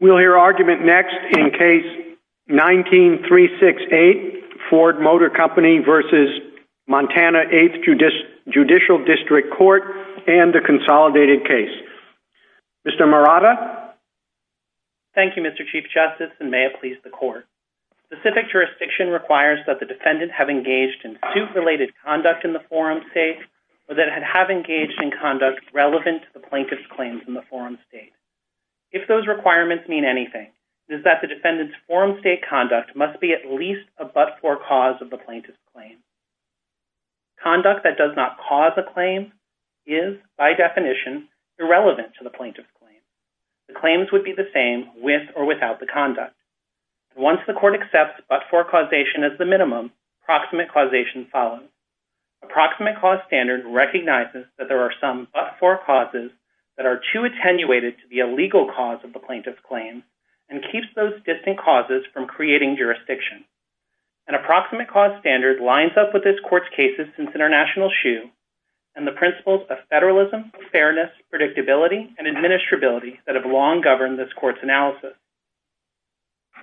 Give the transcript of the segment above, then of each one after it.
We'll hear argument next in Case 19-368, Ford Motor Company v. Montana Eighth Judicial District Court and the Consolidated Case. Mr. Morata? Thank you, Mr. Chief Justice, and may it please the Court. Specific jurisdiction requires that the defendant have engaged in suit-related conduct in the forum state or that it have engaged in conduct relevant to the Plaintiff's claims in requirements mean anything, it is that the defendant's forum state conduct must be at least a but-for cause of the Plaintiff's claim. Conduct that does not cause a claim is, by definition, irrelevant to the Plaintiff's claim. The claims would be the same with or without the conduct. Once the Court accepts but-for causation as the minimum, approximate causation follows. Approximate cause standard recognizes that there are some but-for causes that are too attenuated to the illegal cause of the Plaintiff's claim and keeps those distant causes from creating jurisdiction. An approximate cause standard lines up with this Court's cases since international shoe and the principles of federalism, fairness, predictability, and administrability that have long governed this Court's analysis.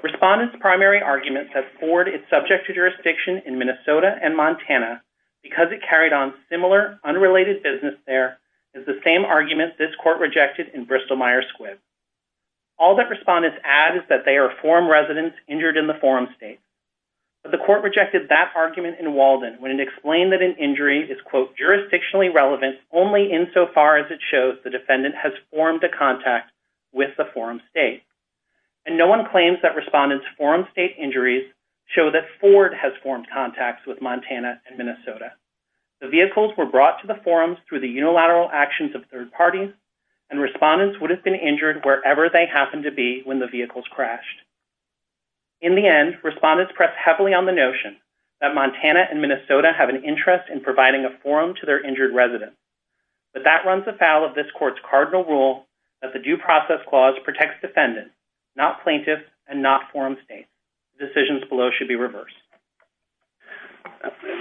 Respondent's primary argument that Ford is subject to jurisdiction in Minnesota and Montana because it carried on similar unrelated business there is the same argument this Court rejected in Bristol-Myers Squibb. All that respondents add is that they are forum residents injured in the forum state. But the Court rejected that argument in Walden when it explained that an injury is, quote, jurisdictionally relevant only insofar as it shows the defendant has formed a contact with the forum state. And no one claims that respondents' forum state injuries show that Ford has formed contacts with Montana and actions of third parties and respondents would have been injured wherever they happened to be when the vehicles crashed. In the end, respondents pressed heavily on the notion that Montana and Minnesota have an interest in providing a forum to their injured residents. But that runs afoul of this Court's cardinal rule that the due process clause protects defendants, not plaintiffs, and not forum states. Decisions below should be reversed.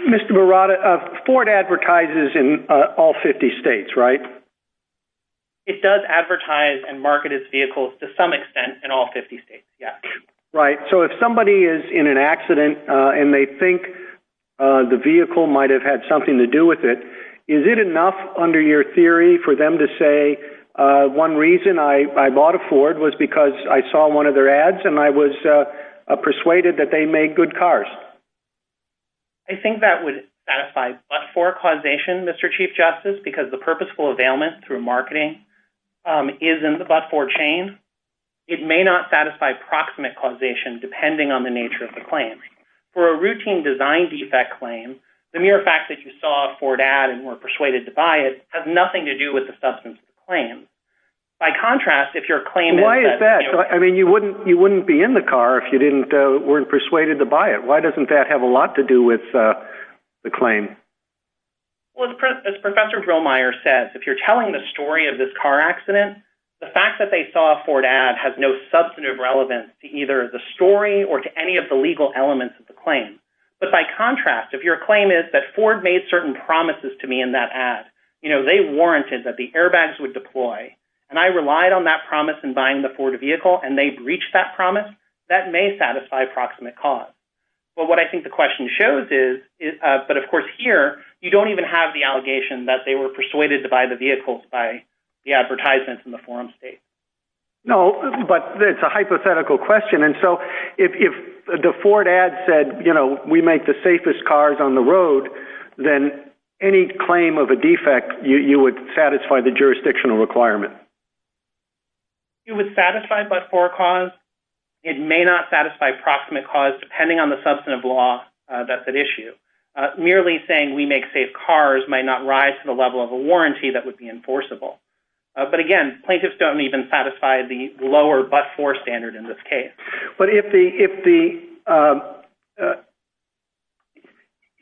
Mr. Murata, Ford advertises in all 50 states, right? It does advertise and market its vehicles to some extent in all 50 states, yeah. Right. So if somebody is in an accident and they think the vehicle might have had something to do with it, is it enough under your theory for them to say, one reason I bought a Ford was because I saw one of their ads and I was persuaded that they made good cars? I think that would satisfy but-for causation, Mr. Chief Justice, because the purposeful availment through marketing is in the but-for chain. It may not satisfy proximate causation depending on the nature of the claim. For a routine design defect claim, the mere fact that you saw a Ford ad and were persuaded to buy it has nothing to do with the substance of the claim. By contrast, if your claim is- Why is that? I mean, you wouldn't be in the car if you weren't persuaded to buy it. Why doesn't that have a lot to do with the claim? Well, as Professor Grillmeyer says, if you're telling the story of this car accident, the fact that they saw a Ford ad has no substantive relevance to either the story or to any of the legal elements of the claim. But by contrast, if your claim is that Ford made certain promises to me in that ad, they warranted that the airbags would deploy, and I relied on that promise in buying the Ford vehicle and they breached that promise, that may satisfy proximate cause. But what I think the question shows is- But of course here, you don't even have the allegation that they were persuaded to buy the vehicles by the advertisements in the forum state. No, but it's a hypothetical question. And so, if the Ford ad said, you know, we make the safest cars on the road, then any claim of a defect, you would satisfy the jurisdictional requirement. It would satisfy but-for cause. It may not satisfy proximate cause, depending on the substantive law that's at issue. Merely saying we make safe cars might not rise to the level of a warranty that would be enforceable. But again, plaintiffs don't even satisfy the lower but-for standard in this case. But if the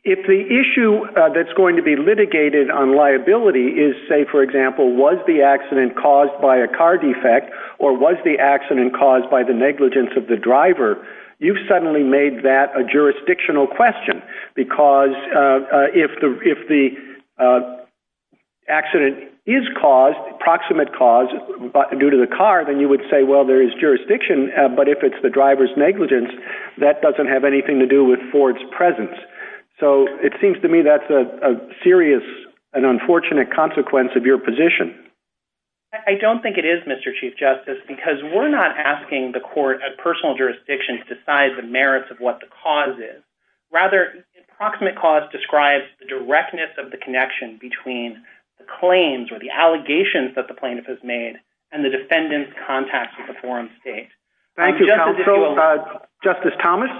issue that's going to be litigated on liability is, say, for example, was the accident caused by a car defect or was the accident caused by the negligence of the driver, you've suddenly made that a jurisdictional question. Because if the accident is caused, proximate cause, due to the car, then you would say, well, there is jurisdiction. But if it's the driver's negligence, that doesn't have anything to do with Ford's presence. So it seems to me that's a serious and unfortunate consequence of your position. I don't think it is, Mr. Chief Justice, because we're not asking the court at personal jurisdiction to decide the merits of what the cause is. Rather, approximate cause describes the directness of the connection between the claims or the allegations that the plaintiff has made and the defendant's contact with the foreign state. Thank you, counsel. Justice Thomas?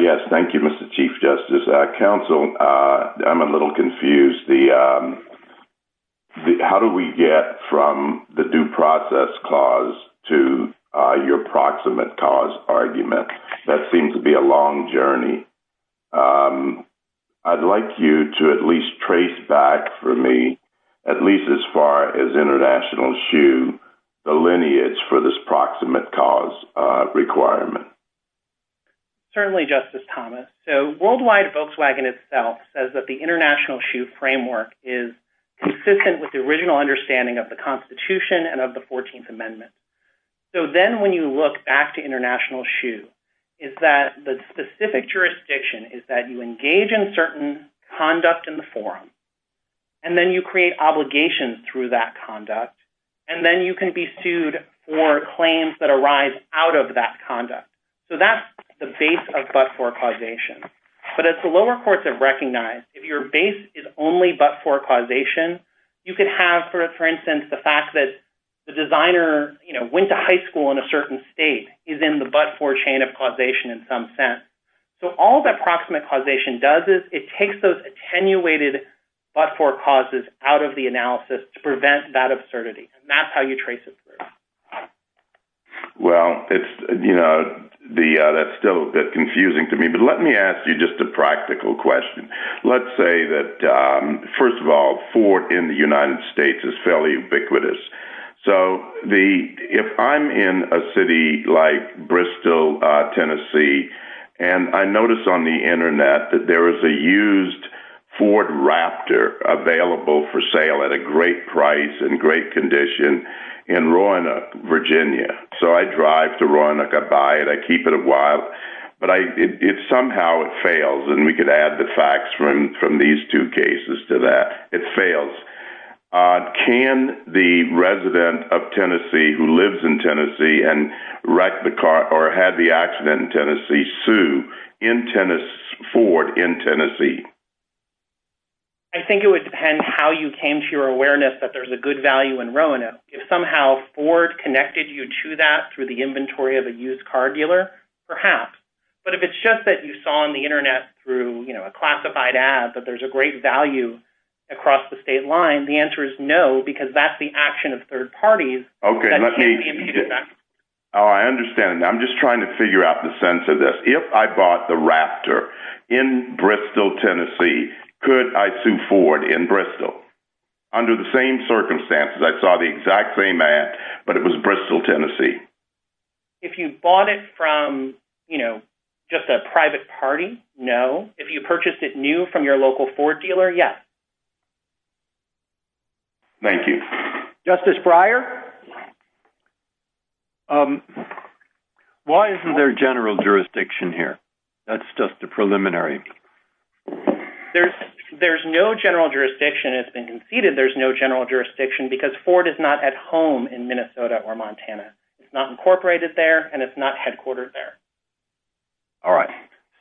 Yes, thank you, Mr. Chief Justice. Counsel, I'm a little confused. How do we get from the due cause argument? That seems to be a long journey. I'd like you to at least trace back for me, at least as far as International Shoe, the lineage for this proximate cause requirement. Certainly, Justice Thomas. So worldwide, Volkswagen itself says that the International Shoe framework is consistent with the original understanding of the Constitution and of the 14th Amendment. But if you look back to International Shoe, is that the specific jurisdiction is that you engage in certain conduct in the forum, and then you create obligations through that conduct, and then you can be sued for claims that arise out of that conduct. So that's the base of but-for causation. But as the lower courts have recognized, if your base is only but-for causation, you could have, for instance, the fact that the designer went to high school in a certain state is in the but-for chain of causation in some sense. So all that proximate causation does is it takes those attenuated but-for causes out of the analysis to prevent that absurdity. And that's how you trace it through. Well, that's still a bit confusing to me. But let me ask you just a practical question. Let's say that, first of all, Ford in the United States is fairly ubiquitous. So if I'm in a city like Bristol, Tennessee, and I notice on the internet that there is a used Ford Raptor available for sale at a great price and great condition in Roanoke, Virginia. So I drive to Roanoke, I buy it, keep it a while, but somehow it fails. And we could add the facts from these two cases to that. It fails. Can the resident of Tennessee who lives in Tennessee and wrecked the car or had the accident in Tennessee sue Ford in Tennessee? I think it would depend how you came to your awareness that there's a good value in Roanoke. If somehow Ford connected you to that through the inventory of a used car dealer, perhaps. But if it's just that you saw on the internet through a classified ad that there's a great value across the state line, the answer is no, because that's the action of third parties that can be impeded back. I understand. I'm just trying to figure out the sense of this. If I bought the Raptor in Bristol, Tennessee, could I sue Ford in Bristol? Under the same circumstances, I saw the exact same ad, but it was Bristol, Tennessee. If you bought it from just a private party, no. If you purchased it new from your local Ford dealer, yes. Thank you. Justice Breyer? Why isn't there general jurisdiction here? That's just a preliminary. There's no general jurisdiction. It's been conceded there's no general jurisdiction because Ford is not at home in Minnesota or Montana. It's not incorporated there and it's not headquartered there. All right.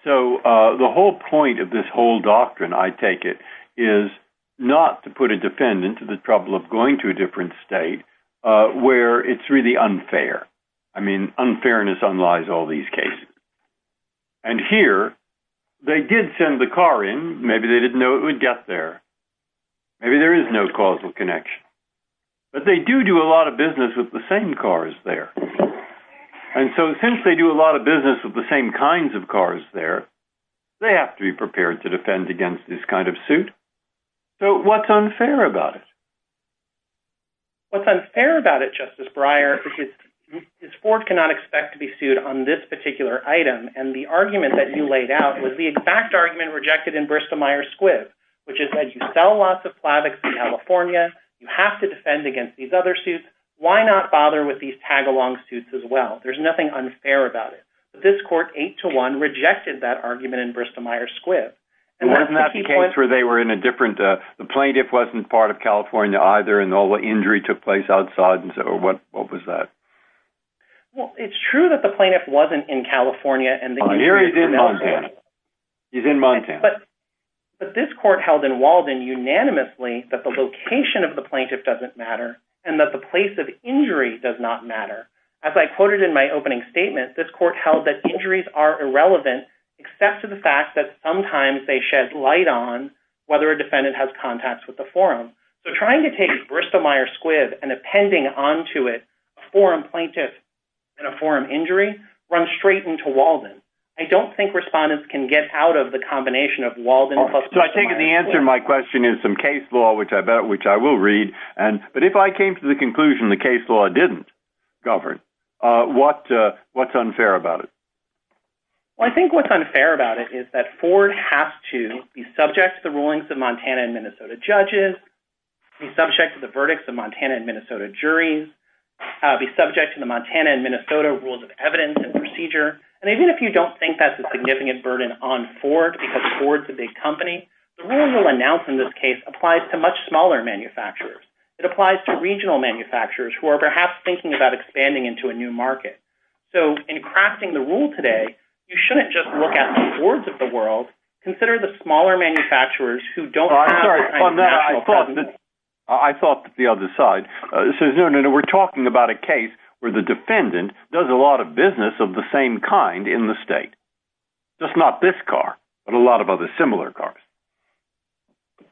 So the whole point of this whole doctrine, I take it, is not to put a defendant to the trouble of going to a different state where it's really unfair. I mean, unfairness unlies all these cases. And here, they did send the car in. Maybe they didn't know it would get there. Maybe there is no causal connection. But they do do a lot of business with the same cars there. And so since they do a lot of business with the same kinds of cars there, they have to be prepared to defend against this kind of suit. So what's unfair about it? What's unfair about it, Justice Breyer, is Ford cannot expect to be sued on this particular item. And the argument that you laid out was the exact argument rejected in Bristow-Myers-Squibb, which is that you sell lots of Plavix in California. You have to defend against these other suits. Why not bother with these tag-along suits as well? There's nothing unfair about it. But this court, 8-1, rejected that argument in Bristow-Myers-Squibb. And wasn't that the case where they were in a different... The plaintiff wasn't part of California either and all the injury took place outside. What was that? Well, it's true that the plaintiff wasn't in California. Oh, here he's in Montana. He's in Montana. But this court held in Walden unanimously that the location of the plaintiff doesn't matter and that the place of injury does not matter. As I quoted in my opening statement, this court held that injuries are irrelevant except for the fact that sometimes they shed light on whether a defendant has contacts with the forum. So trying to take Bristow-Myers-Squibb and appending onto it a forum plaintiff and a forum injury runs straight into Walden. I don't think respondents can get out of the combination of Walden plus Bristow-Myers-Squibb. So I think the answer to my question is some case law, which I will read. But if I came to the conclusion the case law didn't govern, what's unfair about it? Well, I think what's unfair about it is that Ford has to be subject to the rulings of Montana and Minnesota juries, be subject to the Montana and Minnesota rules of evidence and procedure. And even if you don't think that's a significant burden on Ford because Ford's a big company, the rule you'll announce in this case applies to much smaller manufacturers. It applies to regional manufacturers who are perhaps thinking about expanding into a new market. So in crafting the rule today, you shouldn't just look at the boards of the world. Consider the smaller manufacturers who don't have a national presence. I thought that the other side says, no, no, no, we're talking about a case where the defendant does a lot of business of the same kind in the state. Just not this car, but a lot of other similar cars.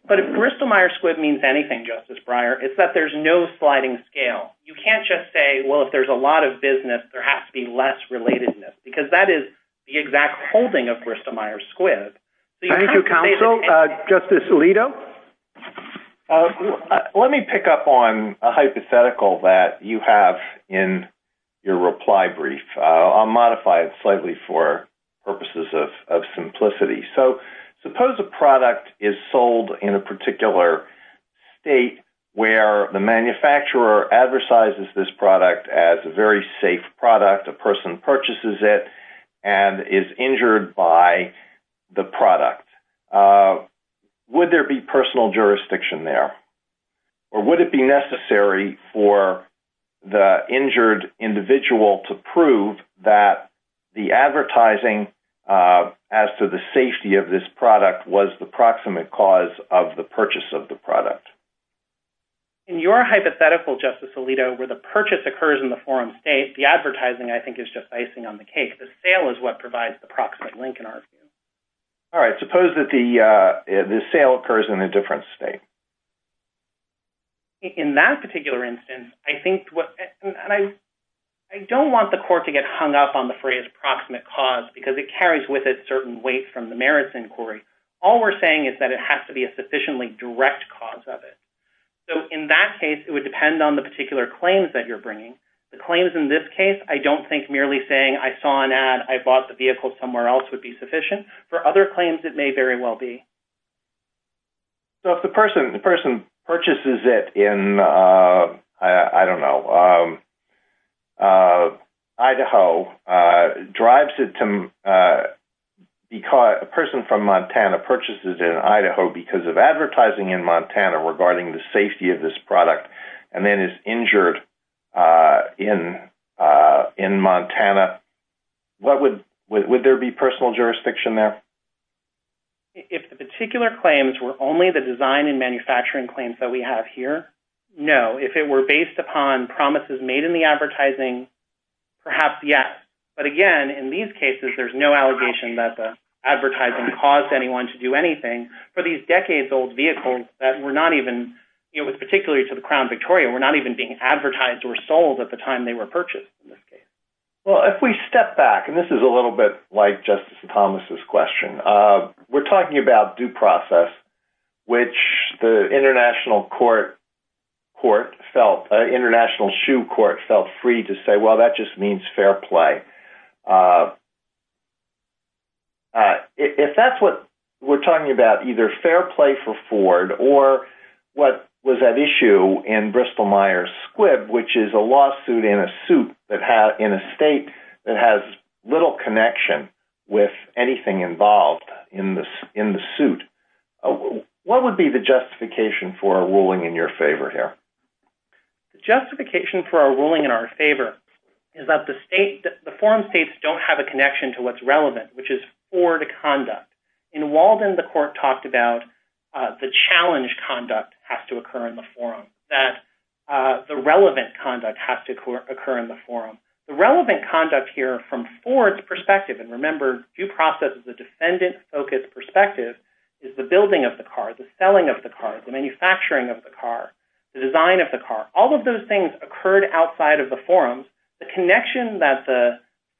But if Bristow-Myers-Squibb means anything, Justice Breyer, it's that there's no sliding scale. You can't just say, well, if there's a lot of business, there has to be less relatedness because that is the exact holding of Bristow-Myers-Squibb. Thank you, counsel. Justice Alito? Let me pick up on a hypothetical that you have in your reply brief. I'll modify it slightly for purposes of simplicity. So suppose a product is sold in a particular state where the manufacturer advertises this product as a very safe product. A person purchases it and is injured by the product. Would there be personal jurisdiction there? Or would it be necessary for the injured individual to prove that the advertising as to the safety of this product was the proximate cause of the purchase of the product? In your hypothetical, Justice Alito, where the purchase occurs in the forum state, the advertising I think is just icing on the cake. The sale is what provides the proximate link in our view. All right. Suppose that the sale occurs in a different state. In that particular instance, I think what, and I don't want the court to get hung up on the phrase proximate cause because it carries with it certain weight from the merits inquiry. All we're saying is that it has to be a sufficiently direct cause of it. So in that case, it would depend on the particular claims that you're bringing. The claims in this case, I don't think merely saying I saw an ad, I bought the vehicle somewhere else would be sufficient. For other claims, it may very well be. So if the person purchases it in, I don't know, Idaho, drives it to, a person from Montana purchases it in Idaho because of advertising in Montana regarding the safety of this product, and then is injured in Montana. What would, would there be personal jurisdiction there? If the particular claims were only the design and manufacturing claims that we have here? No. If it were based upon promises made in the advertising, perhaps yes. But again, in these cases, there's no allegation that the advertising caused anyone to do anything. For these decades old vehicles that were not even, it was particularly to the Crown Victoria, were not even being advertised or sold at the time they were purchased in this case. Well, if we step back, and this is a little bit like Justice Thomas's question. We're talking about due process, which the international court, court felt, international shoe court felt free to either fair play for Ford or what was that issue in Bristol-Myers Squibb, which is a lawsuit in a suit that had in a state that has little connection with anything involved in this, in the suit. What would be the justification for a ruling in your favor here? The justification for a ruling in our favor is that the state, the foreign states don't have a connection to what's relevant, which is Ford conduct. In Walden, the court talked about the challenge conduct has to occur in the forum, that the relevant conduct has to occur in the forum. The relevant conduct here from Ford's perspective, and remember due process is a defendant-focused perspective, is the building of the car, the selling of the car, the manufacturing of the car, the design of the car. All of those things occurred outside of the forums. The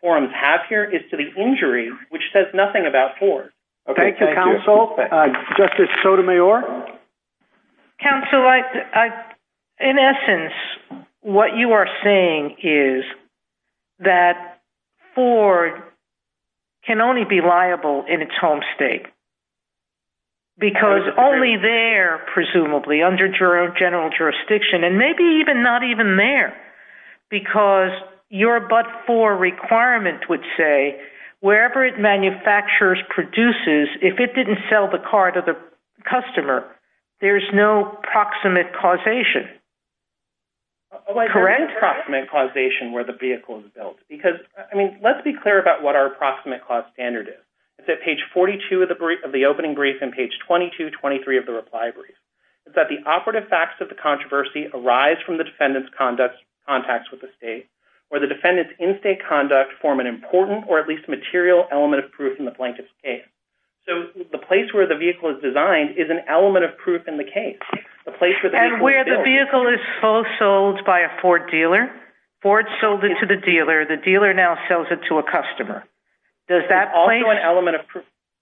forums have here is to the injury, which says nothing about Ford. Okay. Thank you, counsel. Justice Sotomayor. Counsel, in essence, what you are saying is that Ford can only be liable in its home state because only they're presumably under general jurisdiction and maybe even not even there because your but-for requirement would say wherever it manufactures, produces, if it didn't sell the car to the customer, there's no proximate causation. Correct. Proximate causation where the vehicle is built because, I mean, let's be clear about what our approximate cost standard is. It's at page 42 of the opening brief and page 22, 23 of the reply brief. It's that the operative facts of the controversy arise from the defendant's contacts with the state where the defendant's in-state conduct form an important or at least material element of proof in the plaintiff's case. So the place where the vehicle is designed is an element of proof in the case. And where the vehicle is sold by a Ford dealer, Ford sold it to the dealer, the dealer now sells it to a customer.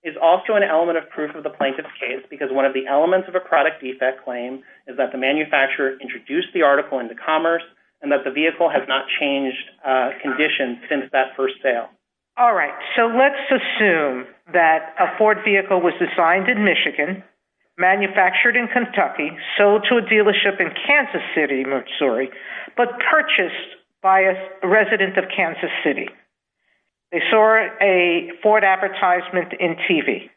Is also an element of proof of the plaintiff's case because one of the elements of a product claim is that the manufacturer introduced the article into commerce and that the vehicle has not changed condition since that first sale. All right. So let's assume that a Ford vehicle was designed in Michigan, manufactured in Kentucky, sold to a dealership in Kansas City, Missouri, but purchased by a resident of Kansas City. They saw a Ford advertisement in TV.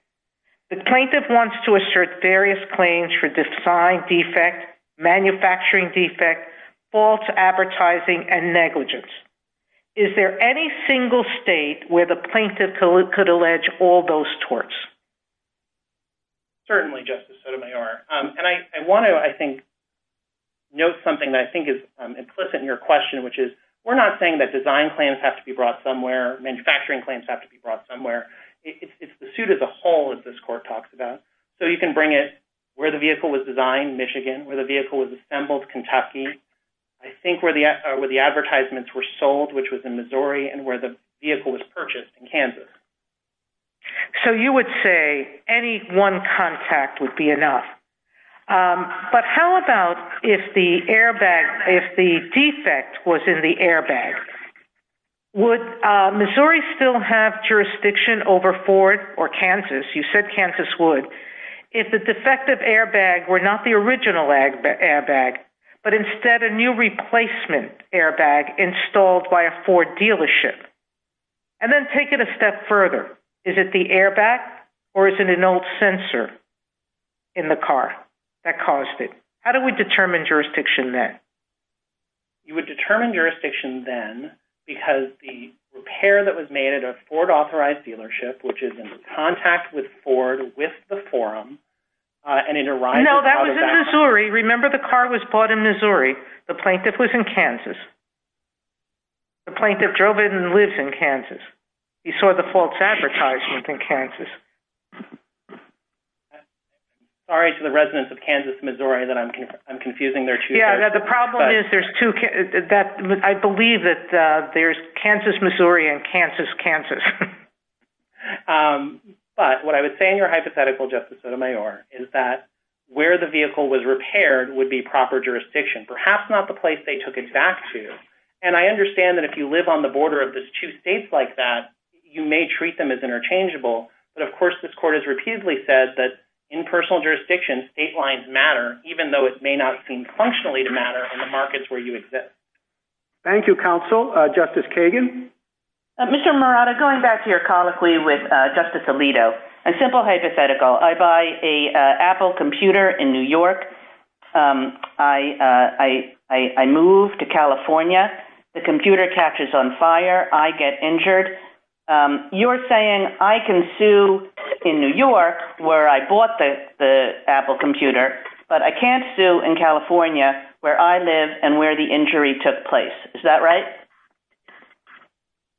The plaintiff wants to assert various claims for design defect, manufacturing defect, false advertising, and negligence. Is there any single state where the plaintiff could allege all those torts? Certainly, Justice Sotomayor. And I want to, I think, note something that I think is implicit in your question, which is we're not saying that design claims have to be brought somewhere, manufacturing claims have to be brought somewhere. It's the suit as a whole, as this court talks about. So you can bring it where the vehicle was designed, Michigan, where the vehicle was assembled, Kentucky. I think where the advertisements were sold, which was in Missouri and where the vehicle was purchased in Kansas. So you would say any one contact would be enough. But how about if the defect was in the airbag? Would Missouri still have jurisdiction over Ford or Kansas, you said Kansas would, if the defective airbag were not the original airbag, but instead a new replacement airbag installed by a Ford dealership? And then take it a step further. Is it the airbag, or is it an old sensor in the car that caused it? How do we determine jurisdiction then? You would determine jurisdiction then because the repair that was made at a Ford authorized dealership, which is in contact with Ford, with the forum, and it arrives out of that. No, that was in Missouri. Remember the car was bought in Missouri. The plaintiff was in Kansas. The plaintiff drove it and lives in Kansas. He saw the false advertisement in Kansas. Sorry to the residents of Kansas, Missouri, that I'm confusing there too. The problem is, I believe that there's Kansas, Missouri, and Kansas, Kansas. But what I would say in your hypothetical, Justice Sotomayor, is that where the vehicle was repaired would be proper jurisdiction, perhaps not the place they took it back to. And I understand that if you live on the border of the two states like that, you may treat them as interchangeable. But of course, this court has repeatedly said that in personal jurisdiction, state lines matter, even though it may not seem functionally to matter in the markets where you exist. Thank you, counsel. Justice Kagan? Mr. Morata, going back to your colloquy with Justice Alito, a simple hypothetical. I buy an Apple computer in New York. I move to California. The computer catches on fire. I get the Apple computer. But I can't sue in California where I live and where the injury took place. Is that right?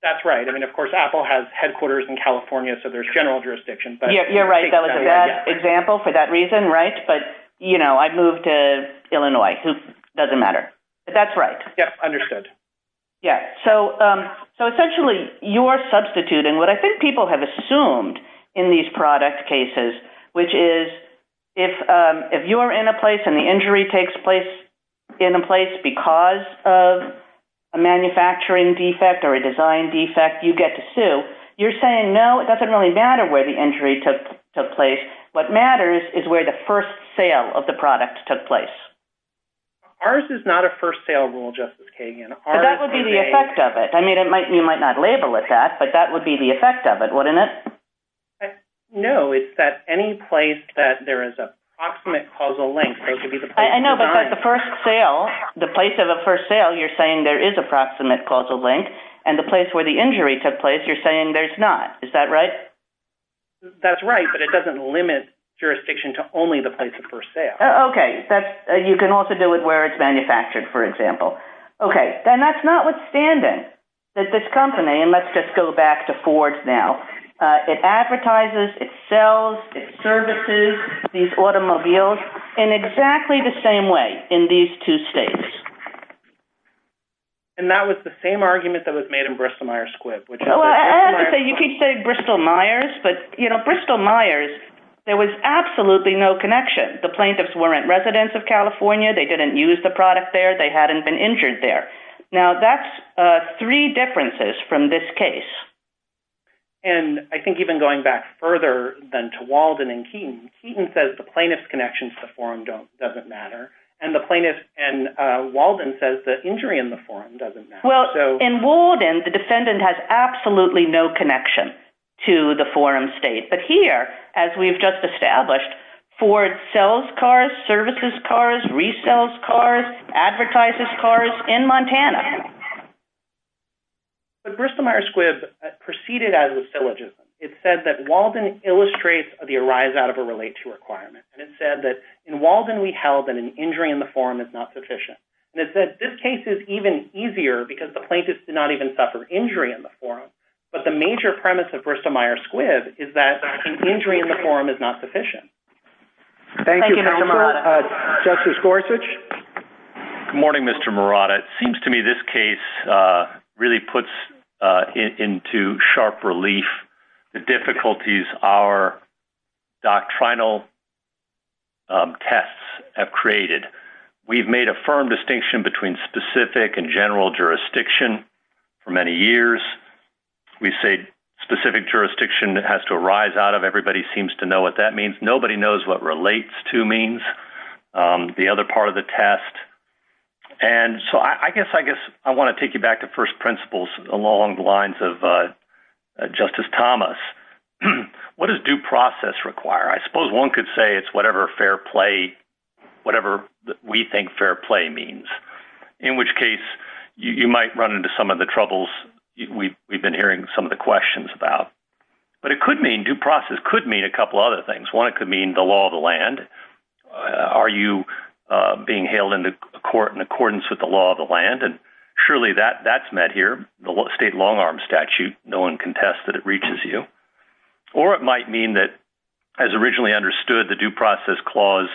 That's right. I mean, of course, Apple has headquarters in California, so there's general jurisdiction. You're right. That was a bad example for that reason, right? But, you know, I've moved to Illinois. It doesn't matter. But that's right. Yeah, understood. Yeah. So essentially, you are substituting what I think people have assumed in these product cases, which is if you are in a place and the injury takes place in a place because of a manufacturing defect or a design defect, you get to sue. You're saying, no, it doesn't really matter where the injury took place. What matters is where the first sale of the product took place. Ours is not a first sale rule, Justice Kagan. But that would be the effect of it. I mean, it might, you might not label it that, but that would be the effect of it, wouldn't it? I don't know. It's that any place that there is a proximate causal link, those would be the- I know, but the first sale, the place of a first sale, you're saying there is a proximate causal link. And the place where the injury took place, you're saying there's not. Is that right? That's right. But it doesn't limit jurisdiction to only the place of first sale. Okay. You can also do it where it's manufactured, for example. Okay. Then that's notwithstanding that this company, and let's just go back to advertising. It advertises, it sells, it services these automobiles in exactly the same way in these two states. And that was the same argument that was made in Bristol-Myers Squibb, which- I have to say, you keep saying Bristol-Myers, but Bristol-Myers, there was absolutely no connection. The plaintiffs weren't residents of California. They didn't use the product there. They hadn't been injured there. Now, that's three differences from this case. And I think even going back further than to Walden and Keaton, Keaton says the plaintiff's connection to the forum doesn't matter, and Walden says the injury in the forum doesn't matter. Well, in Walden, the defendant has absolutely no connection to the forum state. But here, as we've just established, Ford sells cars, services cars, resells cars, advertises cars in Montana. But Bristol-Myers Squibb proceeded as with syllogism. It said that Walden illustrates the arise out of a relate to requirement. And it said that in Walden, we held that an injury in the forum is not sufficient. And it said this case is even easier because the plaintiffs did not even suffer injury in the forum. But the major premise of Bristol-Myers Squibb is that an injury in the forum is not sufficient. Thank you, counsel. Justice Gorsuch. Good morning, Mr. Murata. It seems to me this case really puts into sharp relief the difficulties our doctrinal tests have created. We've made a firm distinction between specific and general jurisdiction for many years. We say specific jurisdiction has to arise out of, everybody seems to know what that means. Nobody knows what relates to means, the other part of the test. And so I guess I want to take you back to first principles along the lines of Justice Thomas. What does due process require? I suppose one could say it's whatever fair play, whatever we think fair play means. In which case, you might run into some of the troubles we've been hearing some of the questions about. But it could mean, due process could mean a couple other things. One, it could mean the law of the land. Are you being hailed into court in accordance with the law of the land? And surely that's met here, the state long arm statute, no one can test that it reaches you. Or it might mean that, as originally understood, the due process clause,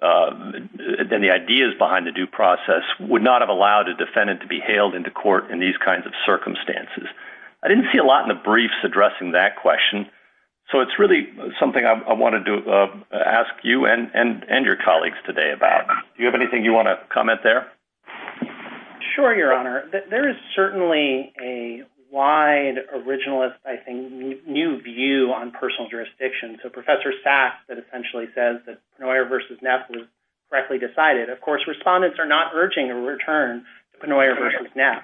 then the ideas behind the due process would not have allowed a defendant to be hailed into court in these kinds of circumstances. I didn't see a lot in the briefs addressing that question. So it's really something I wanted to ask you and your colleagues today about. Do you have anything you want to comment there? Sure, Your Honor. There is certainly a wide originalist, I think, new view on personal jurisdiction. So Professor Sachs that essentially says that Penoyer versus Neff was directly decided. Of course, respondents are not urging a return to Penoyer versus Neff.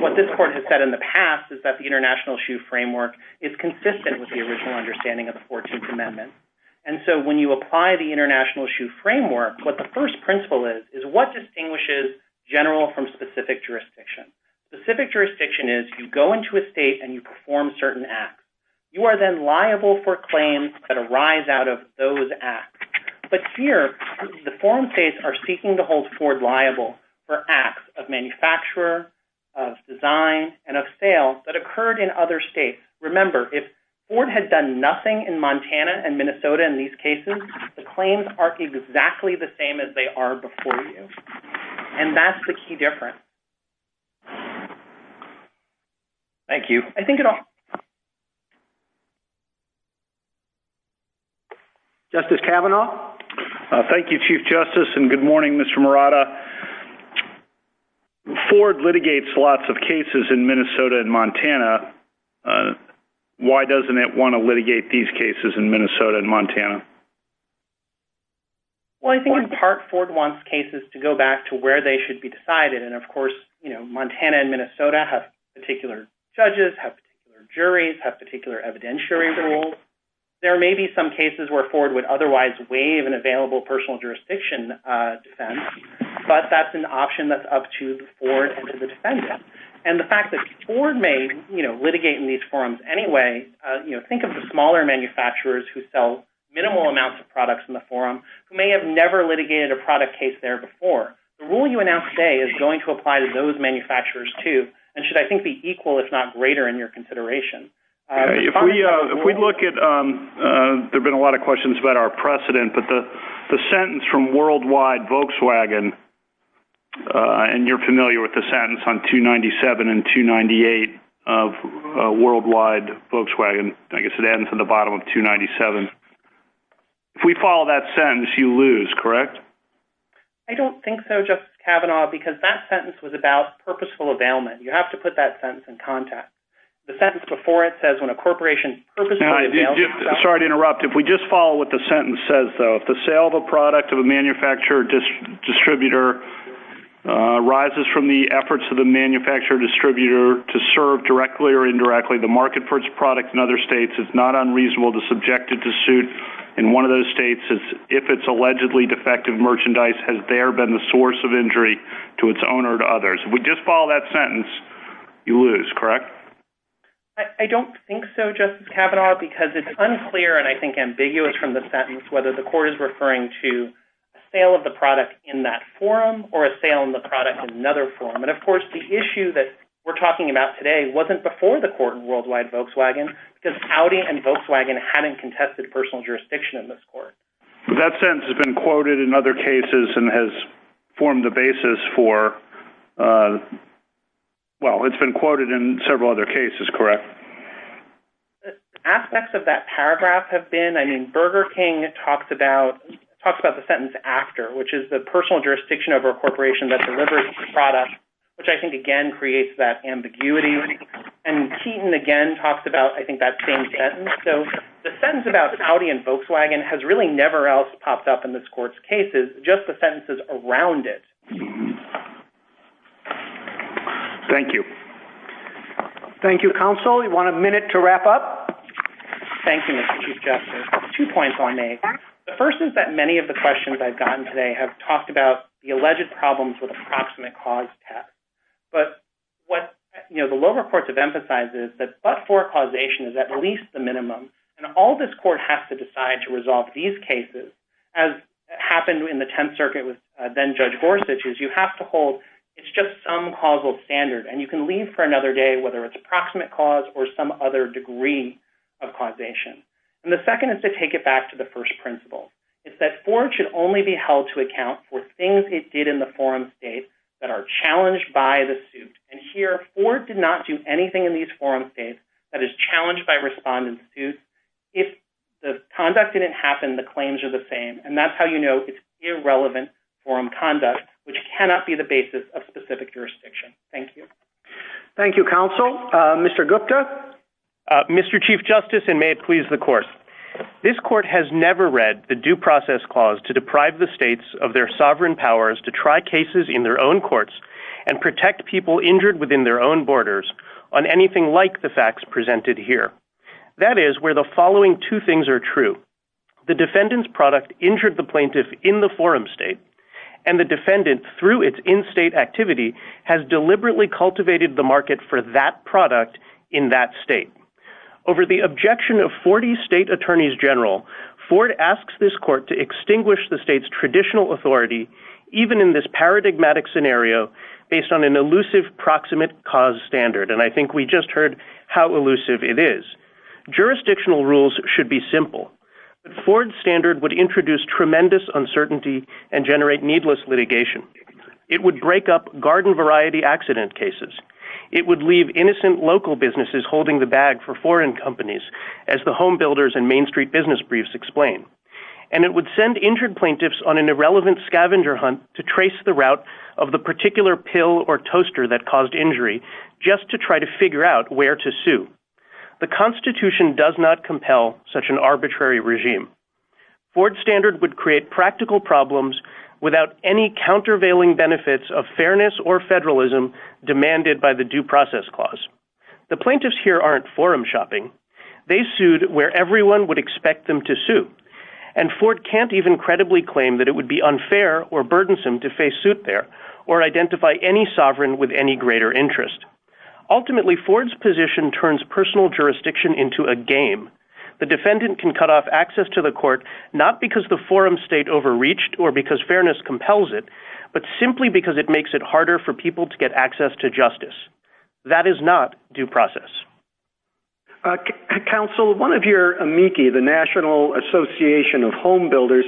What this court has said in the past is that the international issue framework is consistent with the original understanding of the 14th Amendment. And so when you apply the international issue framework, what the first principle is, is what distinguishes general from specific jurisdiction. Specific jurisdiction is you go into a state and you perform certain acts. You are then liable for claims that arise out of those acts. But here, the forum states are seeking to hold Ford liable for acts of manufacturer, of design, and of sale that occurred in other states. Remember, if Ford had done nothing in Montana and Minnesota in these cases, the claims are exactly the same as they are before you. And that's the key difference. Thank you. I think it all... Justice Kavanaugh. Thank you, Chief Justice. And good morning, Mr. Murata. Ford litigates lots of cases in Minnesota and Montana. Why doesn't it want to litigate these cases in Minnesota and Montana? Well, I think in part Ford wants cases to go back to where they should be decided. And of course, you know, Montana and Minnesota have particular judges, have particular juries, have particular evidentiary rules. There may be some cases where Ford would otherwise waive an available personal jurisdiction defense, but that's an option that's up to the Ford and to the defendant. And the fact that Ford may, you know, litigate in these forums anyway, you know, think of the smaller manufacturers who sell minimal amounts of products in the forum, who may have never litigated a product case there before. The rule you announced today is going to be a little different. If we look at... There have been a lot of questions about our precedent, but the sentence from Worldwide Volkswagen, and you're familiar with the sentence on 297 and 298 of Worldwide Volkswagen, I guess it ends at the bottom of 297. If we follow that sentence, you lose, correct? I don't think so, Justice Kavanaugh, because that sentence was about purposeful availment. You have to put that sentence in context. The sentence before it says when a corporation... Sorry to interrupt. If we just follow what the sentence says, though, if the sale of a product of a manufacturer distributor rises from the efforts of the manufacturer distributor to serve directly or indirectly, the market for its product in other states is not unreasonable to subject it to suit. In one of those states, if it's allegedly defective merchandise, has there been the source of injury to its owner or to others? If we just follow that sentence, you lose, correct? I don't think so, Justice Kavanaugh, because it's unclear and I think ambiguous from the sentence whether the court is referring to a sale of the product in that forum or a sale in the product in another forum. And of course, the issue that we're talking about today wasn't before the court in Worldwide Volkswagen, because Audi and Volkswagen hadn't contested personal jurisdiction in this court. That sentence has been quoted in other cases, correct? Aspects of that paragraph have been... I mean, Burger King talks about the sentence after, which is the personal jurisdiction over a corporation that delivers product, which I think, again, creates that ambiguity. And Keaton, again, talks about, I think, that same sentence. So the sentence about Audi and Volkswagen has really never else a minute to wrap up. Thank you, Mr. Chief Justice. Two points I'll make. The first is that many of the questions I've gotten today have talked about the alleged problems with approximate cause test. But what the lower courts have emphasized is that but-for causation is at least the minimum. And all this court has to decide to resolve these cases, as happened in the Tenth Circuit with then Judge Gorsuch, is you have to hold it's just some causal standard. And you can leave for another day whether it's approximate cause or some other degree of causation. And the second is to take it back to the first principle. It's that Ford should only be held to account for things it did in the forum state that are challenged by the suit. And here, Ford did not do anything in these forum states that is challenged by respondent suits. If the conduct didn't happen, the claims are the same. And that's how you know it's irrelevant forum conduct, which cannot be the basis of counsel. Mr. Gupta. Mr. Chief Justice, and may it please the court. This court has never read the due process clause to deprive the states of their sovereign powers to try cases in their own courts and protect people injured within their own borders on anything like the facts presented here. That is where the following two things are true. The defendant's product injured the plaintiff in the forum state. And the defendant through its in-state activity has deliberately cultivated the market for that product in that state. Over the objection of 40 state attorneys general, Ford asks this court to extinguish the state's traditional authority, even in this paradigmatic scenario, based on an elusive proximate cause standard. And I think we just heard how elusive it is. Jurisdictional rules should be simple. Ford standard would introduce tremendous uncertainty and generate needless litigation. It would break up garden variety accident cases. It would leave innocent local businesses holding the bag for foreign companies as the home builders and main street business briefs explain. And it would send injured plaintiffs on an irrelevant scavenger hunt to trace the route of the particular pill or toaster that caused injury just to try to figure out where to sue. The constitution does not compel such an arbitrary regime. Ford standard would create practical problems without any countervailing benefits of fairness or federalism demanded by the due process clause. The plaintiffs here aren't forum shopping. They sued where everyone would expect them to sue. And Ford can't even credibly claim that it would be unfair or burdensome to face suit there or identify any sovereign with any greater interest. Ultimately, Ford's position turns personal jurisdiction into a game. The defendant can cut off access to the state overreached or because fairness compels it, but simply because it makes it harder for people to get access to justice. That is not due process. Council, one of your amici, the National Association of Home Builders,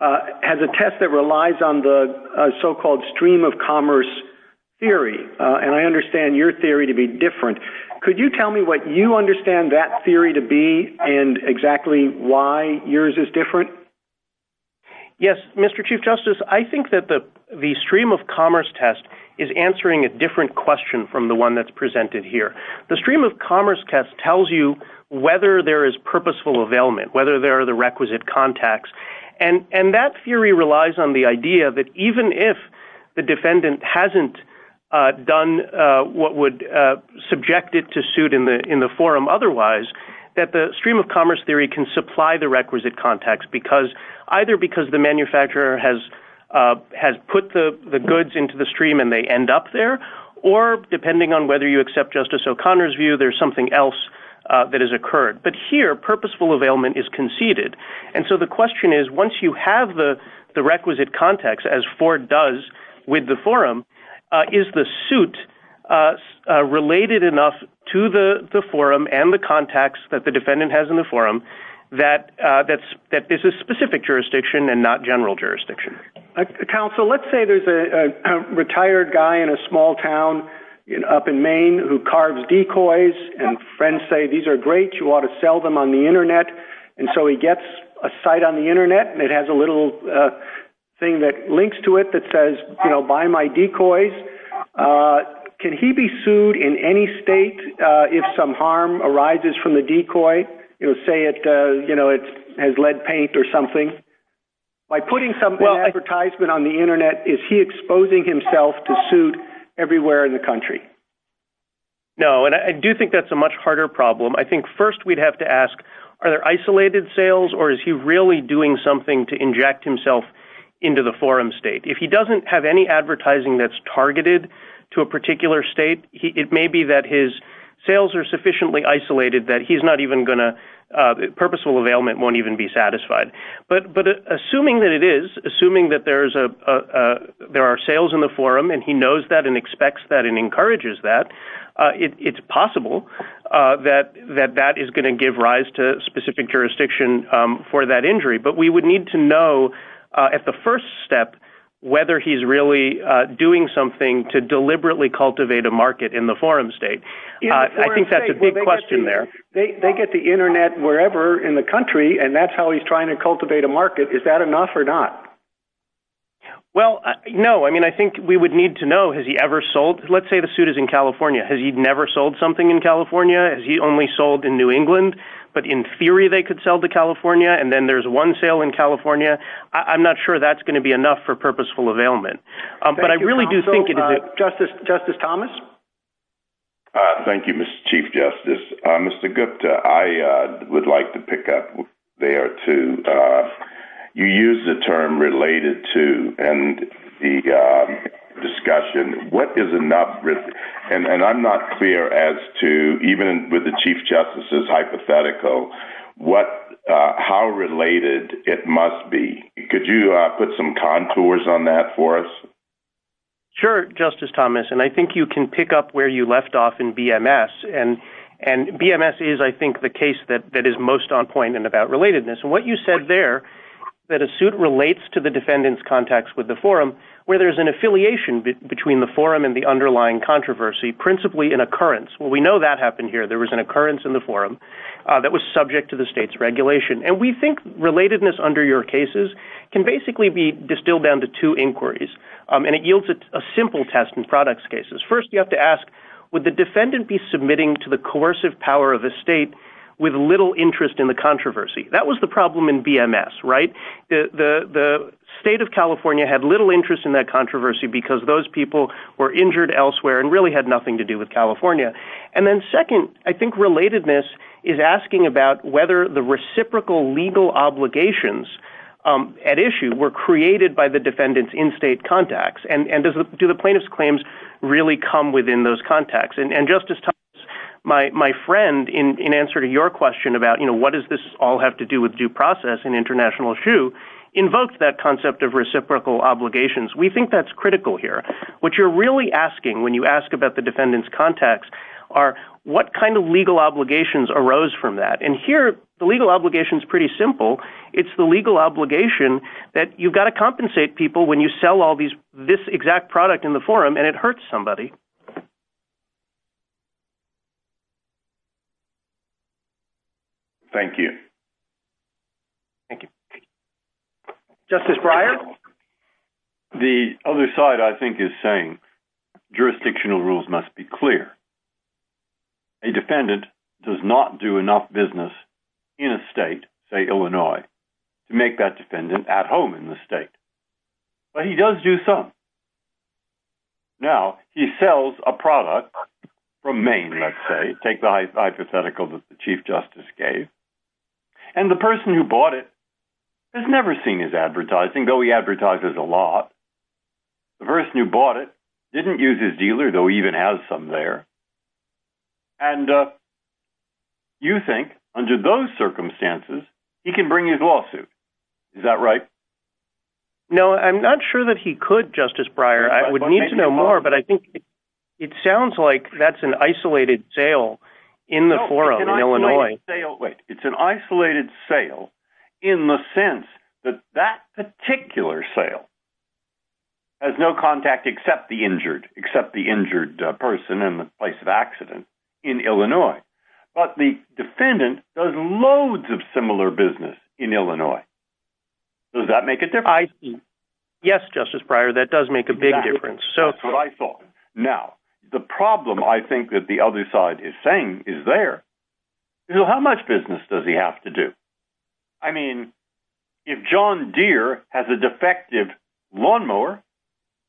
has a test that relies on the so-called stream of commerce theory. And I understand your theory to be different. Could you tell me what you Yes, Mr. Chief Justice, I think that the stream of commerce test is answering a different question from the one that's presented here. The stream of commerce test tells you whether there is purposeful availment, whether there are the requisite contacts. And that theory relies on the idea that even if the defendant hasn't done what would subject it to suit in the forum otherwise, that the stream of commerce theory can supply the requisite contacts because either because the manufacturer has put the goods into the stream and they end up there, or depending on whether you accept Justice O'Connor's view, there's something else that has occurred. But here, purposeful availment is conceded. And so the question is, once you have the requisite contacts, as Ford does with the forum, is the suit related enough to the forum and the contacts that the defendant has in the forum that this is specific jurisdiction and not general jurisdiction? Counsel, let's say there's a retired guy in a small town up in Maine who carves decoys, and friends say, these are great, you ought to sell them on the internet. And so he gets a site on the internet, and it has a little thing that links to it that says, buy my decoys. Can he be sued in any state if some harm arises from the decoy? Say it has lead paint or something. By putting some advertisement on the internet, is he exposing himself to suit everywhere in the country? No, and I do think that's a much harder problem. I think first, we'd have to ask, are there isolated sales, or is he really doing something to inject himself into the forum state? If he doesn't have any advertising that's targeted to a particular state, it may be that his sales are sufficiently isolated that he's not even gonna... Purposeful availment won't even be satisfied. But assuming that it is, assuming that there are sales in the forum, and he knows that and expects that and encourages that, it's possible that that is gonna give rise to specific jurisdiction for that injury. But we would need to know at the first step whether he's really doing something to deliberately cultivate a market in the forum state. I think that's a big question there. They get the internet wherever in the country, and that's how he's trying to cultivate a market. Is that enough or not? Well, no. I mean, I think we would need to know, has he ever sold... Let's say the suit is in but in theory they could sell to California, and then there's one sale in California. I'm not sure that's gonna be enough for purposeful availment. But I really do think it is. Justice Thomas? Thank you, Mr. Chief Justice. Mr. Gupta, I would like to pick up there, too. You used the term related to, and the discussion, what is enough risk? And I'm not clear as to, even with the hypothetical, how related it must be. Could you put some contours on that for us? Sure, Justice Thomas. And I think you can pick up where you left off in BMS. And BMS is, I think, the case that is most on point and about relatedness. And what you said there, that a suit relates to the defendant's contacts with the forum, where there's an affiliation between the forum and the underlying controversy, principally an occurrence. Well, we know that happened here. There was an occurrence in the forum that was subject to the state's regulation. And we think relatedness under your cases can basically be distilled down to two inquiries. And it yields a simple test in products cases. First, you have to ask, would the defendant be submitting to the coercive power of the state with little interest in the controversy? That was the problem in BMS, right? The state of California had little interest in that controversy because those people were related. I think relatedness is asking about whether the reciprocal legal obligations at issue were created by the defendant's in-state contacts. And do the plaintiff's claims really come within those contacts? And Justice Thomas, my friend, in answer to your question about what does this all have to do with due process and international issue, invoked that concept of reciprocal obligations. We think that's critical here. What you're really asking when you ask about defendant's contacts are what kind of legal obligations arose from that? And here, the legal obligation is pretty simple. It's the legal obligation that you've got to compensate people when you sell all this exact product in the forum and it hurts somebody. Thank you. Thank you. Justice Breyer? Well, the other side, I think, is saying jurisdictional rules must be clear. A defendant does not do enough business in a state, say Illinois, to make that defendant at home in the state. But he does do some. Now, he sells a product from Maine, let's say. Take the hypothetical that the Chief Justice gave. And the person who bought it has never seen his advertising, though he advertises a lot. The person who bought it didn't use his dealer, though he even has some there. And you think, under those circumstances, he can bring his lawsuit. Is that right? No, I'm not sure that he could, Justice Breyer. I would need to know more, but I think it sounds like that's an isolated sale in the forum in Illinois. It's an isolated sale in the sense that that particular sale has no contact except the injured person and the place of accident in Illinois. But the defendant does loads of similar business in Illinois. Does that make a difference? Yes, Justice Breyer, that does make a big difference. That's what I thought. Now, the problem, I think, that the other side is saying is there. How much business does he have to do? I mean, if John Deere has a defective lawnmower,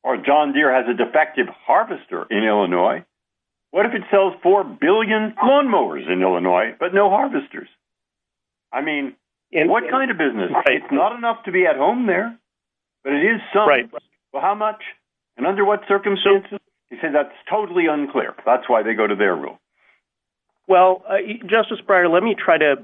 or John Deere has a defective harvester in Illinois, what if it sells 4 billion lawnmowers in Illinois, but no harvesters? I mean, what kind of business? It's not enough to be at home there, but it is some. Well, how much and under what circumstances? He said that's totally unclear. That's why they go to their rule. Well, Justice Breyer, let me try to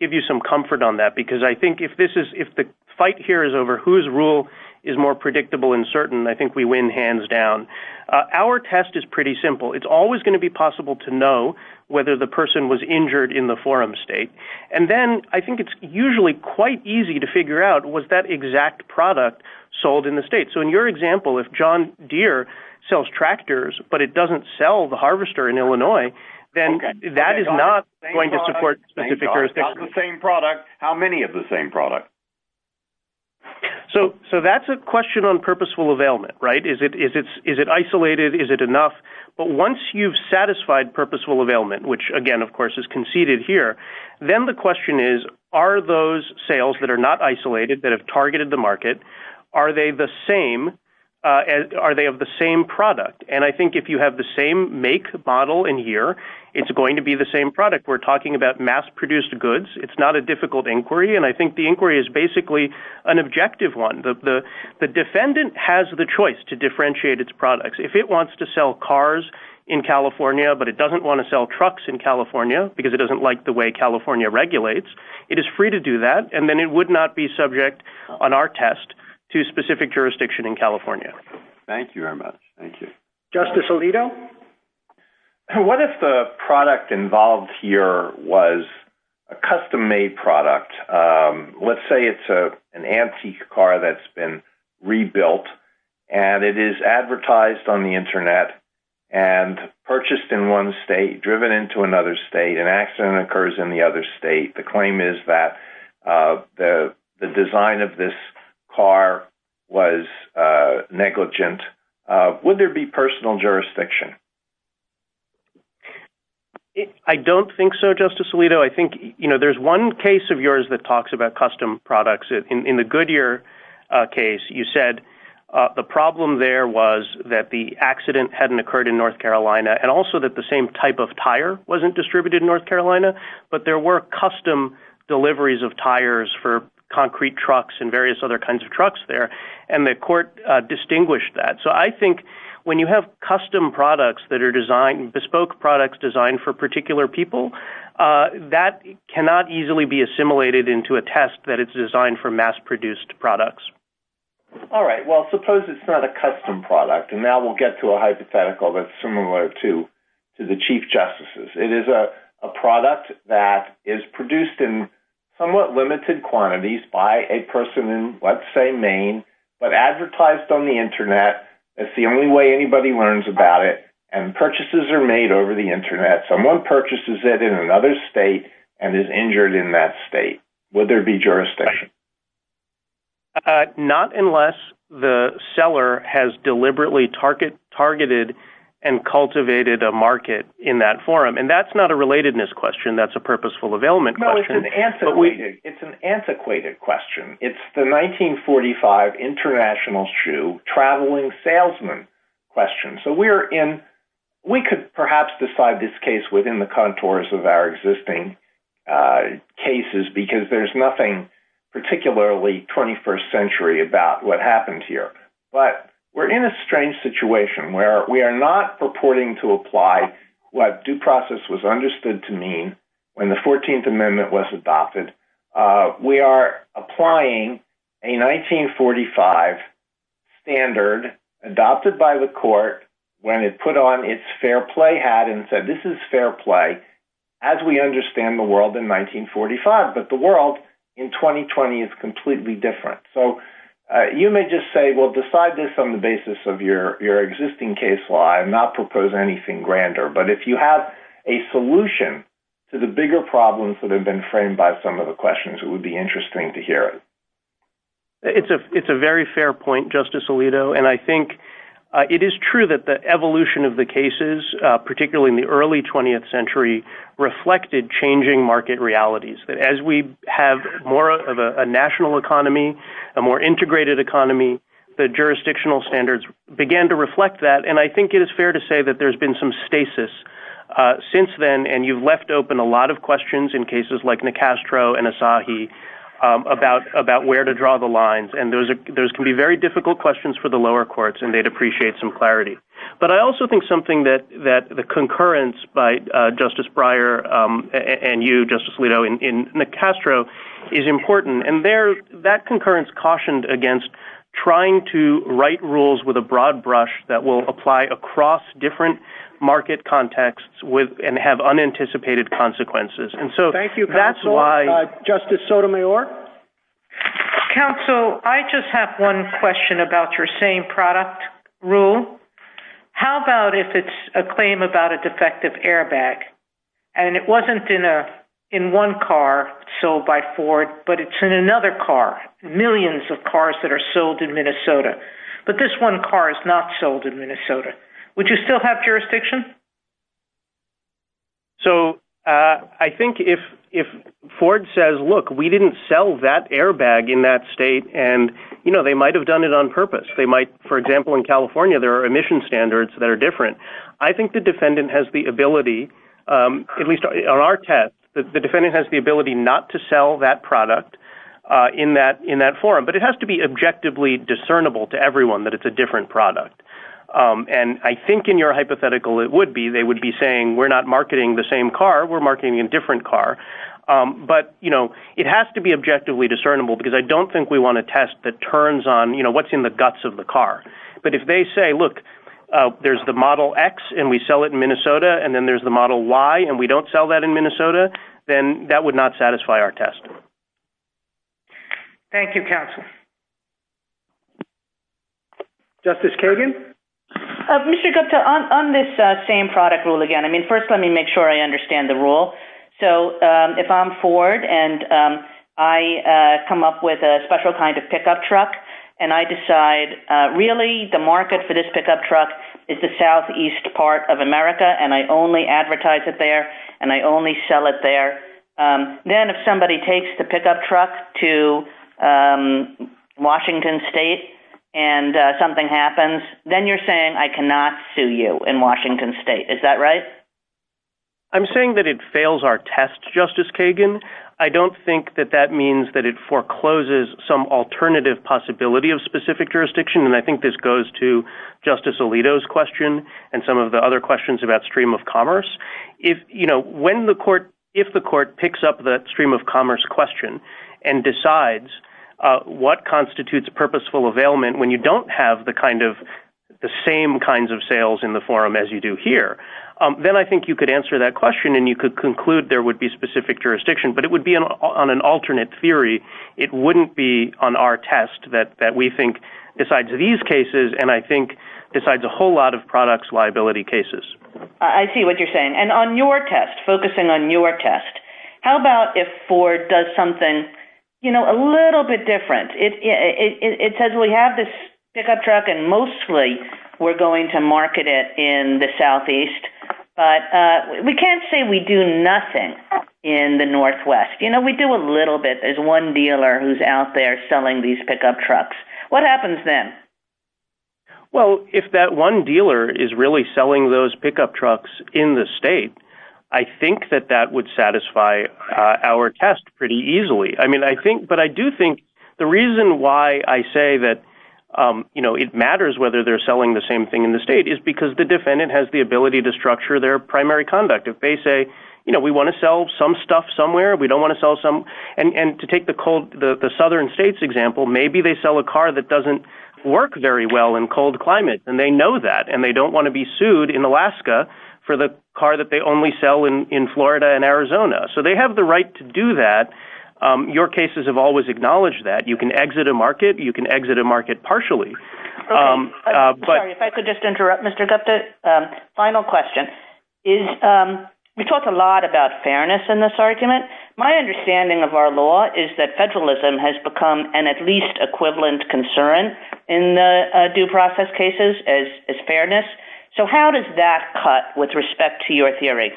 give you some comfort on that, because I think if the fight here is over whose rule is more predictable and certain, I think we win hands down. Our test is pretty simple. It's always going to be possible to know whether the person was injured in the forum state. And then I think it's usually quite easy to figure out, was that exact product sold in the state? So in your example, if John Deere sells tractors, but it doesn't sell the harvester in Illinois, then that is not going to support specific jurisdiction. How many of the same product? So that's a question on purposeful availment, right? Is it isolated? Is it enough? But once you've satisfied purposeful availment, which again, of course, is conceded here, then the question is, are those sales that are not isolated, that have targeted the market, are they of the same product? And I think if you have the same make model in here, it's going to be the same product. We're talking about mass produced goods. It's not a difficult inquiry. And I think the inquiry is basically an objective one. The defendant has the choice to differentiate its products. If it wants to sell cars in California, but it doesn't want to sell trucks in California because it doesn't like the way California regulates, it is free to do that. And then it would not be subject on our test to specific jurisdiction in California. Thank you very much. Thank you. Justice Alito. What if the product involved here was a custom made product? Let's say it's an antique car that's been rebuilt and it is advertised on the internet and purchased in one state, driven into another state and accident occurs in the other state. The claim is that the design of this car was negligent. Would there be personal jurisdiction? I don't think so, Justice Alito. I think there's one case of yours that talks about custom products. In the Goodyear case, you said the problem there was that the accident hadn't distributed in North Carolina, but there were custom deliveries of tires for concrete trucks and various other kinds of trucks there. And the court distinguished that. So I think when you have custom products that are designed, bespoke products designed for particular people, that cannot easily be assimilated into a test that it's designed for mass produced products. All right. Well, suppose it's not a custom product. And now we'll get to a hypothetical that's similar to the Chief Justice's. It is a product that is produced in somewhat limited quantities by a person in, let's say Maine, but advertised on the internet. That's the only way anybody learns about it. And purchases are made over the internet. Someone purchases it in another state and is injured in that state. Would there be jurisdiction? Not unless the seller has deliberately targeted and cultivated a market in that forum. And that's not a relatedness question. That's a purposeful availment question. No, it's an antiquated question. It's the 1945 international shoe traveling salesman question. So we could perhaps decide this case within the contours of our existing cases because there's nothing particularly 21st century about what happened here. But we're in a strange situation where we are not purporting to apply what due process was understood to mean when the 14th amendment was adopted. We are applying a 1945 standard adopted by the court when it put on its fair play hat and said, this is fair play as we understand the world in 1945. But the world in 2020 is completely different. So you may just say, well, decide this on the basis of your existing case law and not propose anything grander. But if you have a solution to the bigger problems that have been framed by some of the questions, it would be interesting to hear it. It's a very fair point, Justice Alito. And I think it is true that the evolution of the cases, particularly in the early 20th century, reflected changing market realities. That as we have more of a national economy, a more integrated economy, the jurisdictional standards began to reflect that. And I think it is fair to say that there's been some stasis since then. And you've left open a lot of questions in cases like Nicastro and Asahi about where to draw the lines. And those can be very difficult questions for the lower courts, and they'd appreciate some clarity. But I also think something that the concurrence by Justice Breyer and you, Justice Alito, in Nicastro is important. And that concurrence cautioned against trying to write rules with a broad brush that will apply across different market contexts and have unanticipated consequences. And so that's why- Thank you, Counselor. Justice Sotomayor? Counsel, I just have one question about your same product rule. How about if it's a claim about a defective airbag, and it wasn't in one car sold by Ford, but it's in another car, millions of cars that are sold in Minnesota. But this one car is not sold in Minnesota. Would you still have jurisdiction? So, I think if Ford says, look, we didn't sell that airbag in that state, and they might have done it on purpose. They might, for example, in California, there are emission standards that are different. I think the defendant has the ability, at least on our test, that the defendant has the ability not to sell that product in that forum. But it has to be objectively discernible to everyone that it's a different product. And I think in your hypothetical, they would be saying, we're not marketing the same car, we're marketing a different car. But it has to be objectively discernible, because I don't think we want a test that turns on what's in the guts of the car. But if they say, look, there's the Model X, and we sell it in Minnesota, and then there's the Model Y, and we don't sell that in Minnesota, then that would not satisfy our test. Thank you, Counsel. Justice Kagan? Mr. Gupta, on this same product rule again, I mean, first, let me make sure I understand the rule. So, if I'm Ford, and I come up with a special kind of pickup truck, and I decide, really, the market for this pickup truck is the southeast part of America, and I only advertise it there, and I only sell it there. Then if somebody takes the pickup truck to Washington State, and something happens, then you're saying I cannot sue you in Washington State. Is that right? I'm saying that it fails our test, Justice Kagan. I don't think that that means that it forecloses some alternative possibility of specific jurisdiction. And I think this goes to Justice Alito's question, and some of the other questions about stream of commerce. If the court picks up that stream of commerce question and decides what constitutes a purposeful availment when you don't have the same kinds of sales in the forum as you do here, then I think you could answer that question, and you could conclude there would be specific jurisdiction, but it would be on an alternate theory. It wouldn't be on our test that we think decides these cases, and I think decides a whole lot of products liability cases. I see what you're saying. And on your test, focusing on your test, how about if Ford does something, you know, a little bit different? It says we have this pickup truck, and mostly we're going to market it in the southeast, but we can't say we do nothing in the northwest. You know, we do a little bit. There's one dealer who's out there selling these pickup trucks. What happens then? Well, if that one dealer is really selling those pickup trucks in the state, I think that that would satisfy our test pretty easily. I mean, I think, but I do think the reason why I say that, you know, it matters whether they're selling the same thing in the state is because the defendant has the ability to structure their primary conduct. If they say, you know, we want to sell some stuff somewhere, we don't want to sell some, and to take the cold, the southern states example, maybe they sell a car that doesn't work very well in cold climate, and they know that, and they don't want to be sued in Alaska for the car that they only sell in Florida and Arizona. So they have the right to do that. Your cases have always acknowledged that. You can exit a market. You can exit a market partially. Sorry, if I could just interrupt, Mr. Gupta. Final question. We talk a lot about fairness in this argument. My understanding of our law is that federalism has become an at least equivalent concern in the due process cases as fairness. So how does that cut with respect to your theory?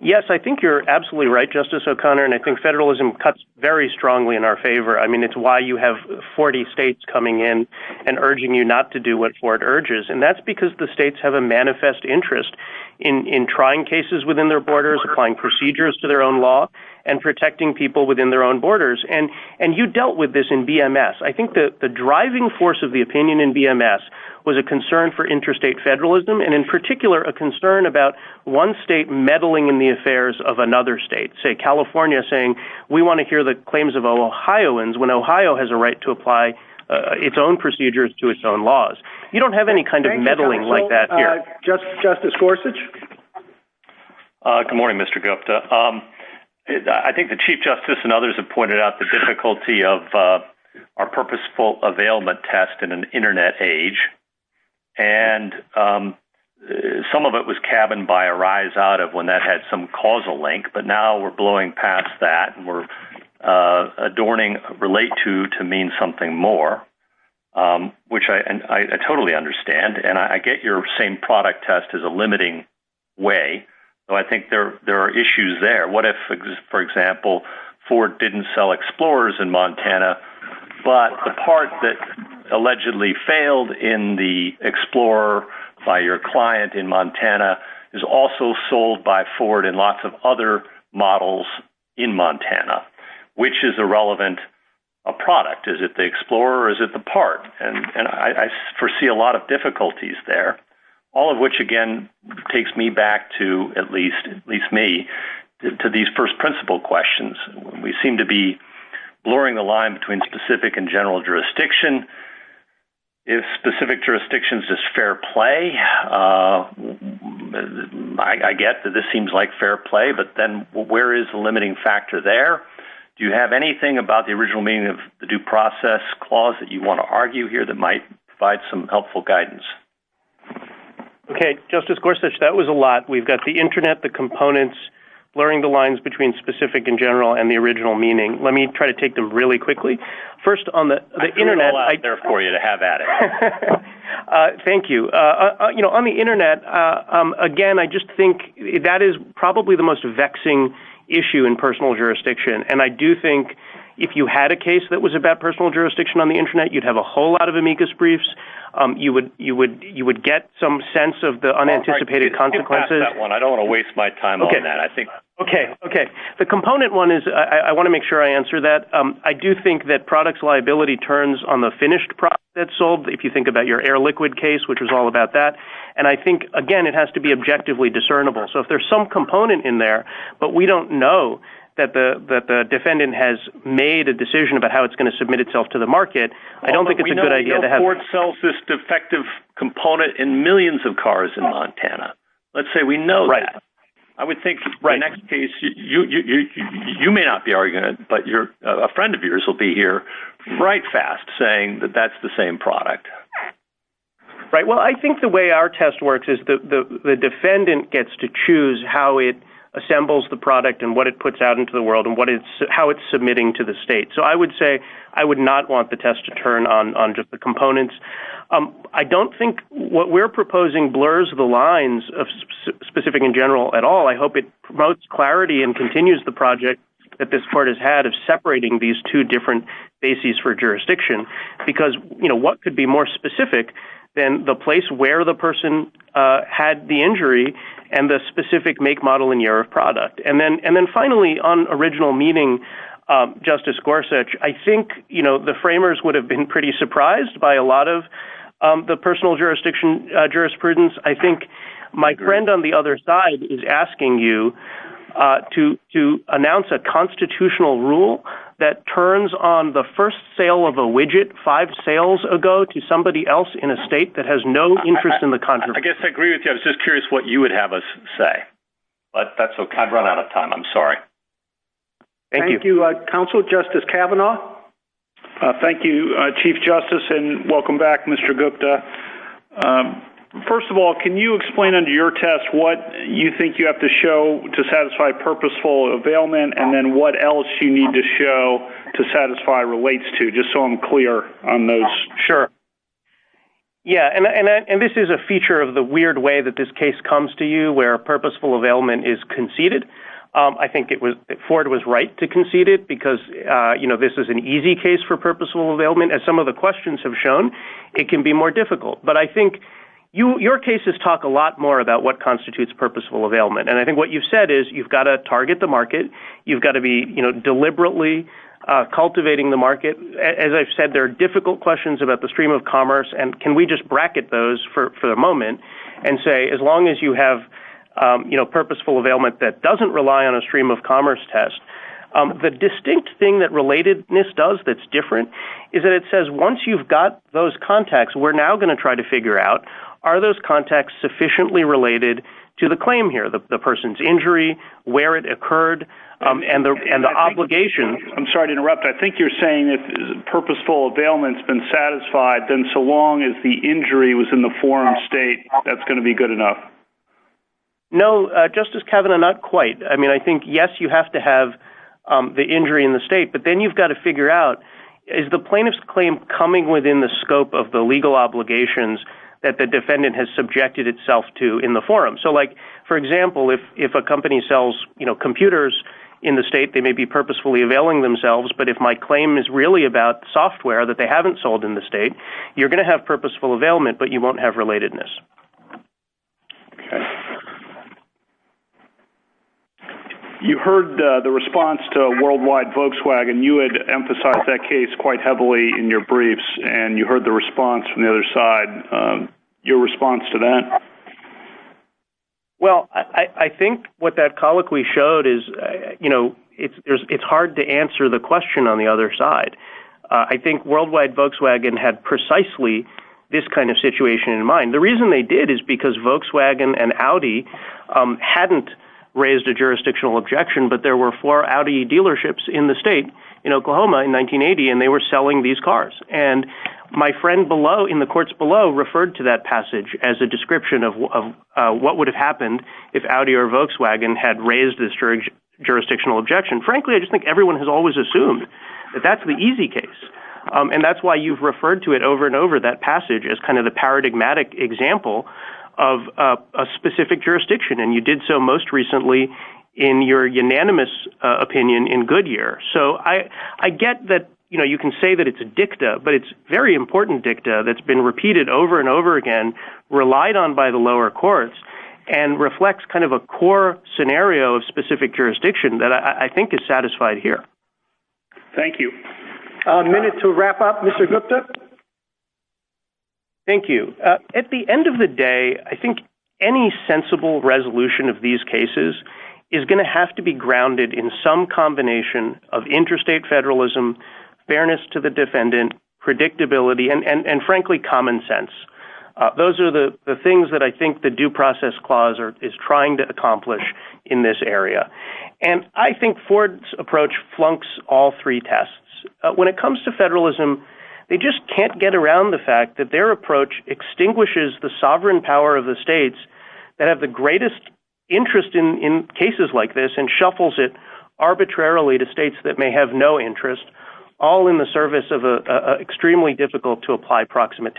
Yes, I think you're absolutely right, Justice O'Connor, and I think federalism cuts very strongly in our favor. I mean, it's why you have 40 states coming in and urging you not to do what Ford urges, and that's because the states have a manifest interest in trying cases within their procedures to their own law and protecting people within their own borders. And you dealt with this in BMS. I think that the driving force of the opinion in BMS was a concern for interstate federalism, and in particular, a concern about one state meddling in the affairs of another state, say California, saying we want to hear the claims of Ohioans when Ohio has a right to apply its own procedures to its own laws. You don't have any kind of meddling like that here. Justice Gorsuch? Good morning, Mr. Gupta. I think the Chief Justice and others have pointed out the difficulty of our purposeful availment test in an internet age, and some of it was cabined by a rise out of when that had some causal link, but now we're blowing past that and we're adorning relate to to mean something more, which I totally understand, and I get your same product test is a limiting way. So I think there are issues there. What if, for example, Ford didn't sell Explorers in Montana, but the part that allegedly failed in the Explorer by your client in Montana is also sold by Ford and lots of other models in Montana, which is a relevant product. Is it the Explorer or is it the part? And I foresee a lot of difficulties there, all of which, again, takes me back to, at least me, to these first principle questions. We seem to be blurring the line between specific and general jurisdiction. If specific jurisdiction is just fair play, I get that this seems like fair play, but then where is the limiting factor there? Do you have anything about the original meaning of the due process clause that you want to argue here that might provide some helpful guidance? Okay, Justice Gorsuch, that was a lot. We've got the internet, the components, blurring the lines between specific and general and the original meaning. Let me try to take them really quickly. First on the internet... I threw it all out there for you to have at it. Thank you. On the internet, again, I just think that is probably the most vexing issue in personal jurisdiction. And I do think if you had a case that was about personal jurisdiction on the internet, you'd have a whole lot of amicus briefs. You would get some sense of the unanticipated consequences. I don't want to waste my time on that. Okay. Okay. The component one is... I want to make sure I answer that. I do think that products liability turns on the finished product that's sold, if you think about your air-liquid case, which was all about that. And I think, again, it has to be objectively discernible. So if there's some component in there, but we don't know that the defendant has made a decision about how it's going to submit itself to the market, I don't think it's a good idea to have... We know Ford sells this defective component in millions of cars in Montana. Let's say we know that. I would think the next case, you may not be arguing it, but a friend of yours will be here right fast saying that that's the same product. Right. Well, I think the way our test works is the defendant gets to choose how it assembles the product and what it puts out into the world and how it's submitting to the state. So I would say I would not want the test to turn on just the components. I don't think what we're proposing blurs the lines of specific in general at all. I hope it promotes clarity and continues the project that this court has had of separating these two different bases for jurisdiction, because what could be more specific than the had the injury and the specific make, model, and year of product. And then finally on original meeting, Justice Gorsuch, I think the framers would have been pretty surprised by a lot of the personal jurisprudence. I think my friend on the other side is asking you to announce a constitutional rule that turns on the first sale of a widget five sales ago to somebody else in a state that has no interest in the country. I guess I agree with you. I was just curious what you would have us say. But that's okay. I've run out of time. I'm sorry. Thank you, counsel. Justice Kavanaugh. Thank you, Chief Justice. And welcome back, Mr. Gupta. First of all, can you explain under your test what you think you have to show to satisfy purposeful availment and then what else you need to show to satisfy relates to just so I'm clear on those. Sure. Yeah. And this is a feature of the weird way that this case comes to you where purposeful availment is conceded. I think Ford was right to concede it because this is an easy case for purposeful availment. As some of the questions have shown, it can be more difficult. But I think your cases talk a lot more about what constitutes purposeful availment. And I think what you've said is you've got to target the market. You've got to be deliberately cultivating the questions about the stream of commerce. And can we just bracket those for the moment and say as long as you have purposeful availment that doesn't rely on a stream of commerce test, the distinct thing that relatedness does that's different is that it says once you've got those contexts, we're now going to try to figure out are those contexts sufficiently related to the claim here, the person's injury, where it occurred and the obligation. I'm sorry to interrupt. I mean, if purposeful availment's been satisfied, then so long as the injury was in the forum state, that's going to be good enough. No, Justice Kavanaugh, not quite. I mean, I think, yes, you have to have the injury in the state, but then you've got to figure out is the plaintiff's claim coming within the scope of the legal obligations that the defendant has subjected itself to in the forum. So like, for example, if a company sells computers in the state, they may be purposefully availing themselves, but if my claim is really about software that they haven't sold in the state, you're going to have purposeful availment, but you won't have relatedness. You heard the response to a worldwide Volkswagen. You had emphasized that case quite heavily in your briefs, and you heard the response from the other side. Your response to that? Well, I think what that colloquy showed is, you know, it's hard to answer the question on the other side. I think worldwide Volkswagen had precisely this kind of situation in mind. The reason they did is because Volkswagen and Audi hadn't raised a jurisdictional objection, but there were four Audi dealerships in the state in Oklahoma in 1980, and they were selling these cars. And my friend below, in the courts below, referred to that passage as a description of what would have happened if Audi or Volkswagen had raised this jurisdictional objection. Frankly, I just think everyone has always assumed that that's the easy case, and that's why you've referred to it over and over. That passage is kind of the paradigmatic example of a specific jurisdiction, and you did so most recently in your unanimous opinion in Goodyear. So I get that, you know, you can say that it's a dicta, but it's a very important dicta that's been repeated over and over again, relied on by the lower courts, and reflects kind of a core scenario of specific jurisdiction that I think is satisfied here. Thank you. A minute to wrap up, Mr. Gupta. Thank you. At the end of the day, I think any sensible resolution of these cases is going to have to be grounded in some combination of interstate federalism, fairness to the defendant, predictability, and frankly, common sense. Those are the things that I think the Due Process Clause is trying to accomplish in this area. And I think Ford's approach flunks all three tests. When it comes to federalism, they just can't get around the fact that their approach extinguishes the sovereign power of the states that have the greatest interest in cases like this and shuffles it arbitrarily to states that may have no interest, all in the service of an extremely difficult-to-apply proximate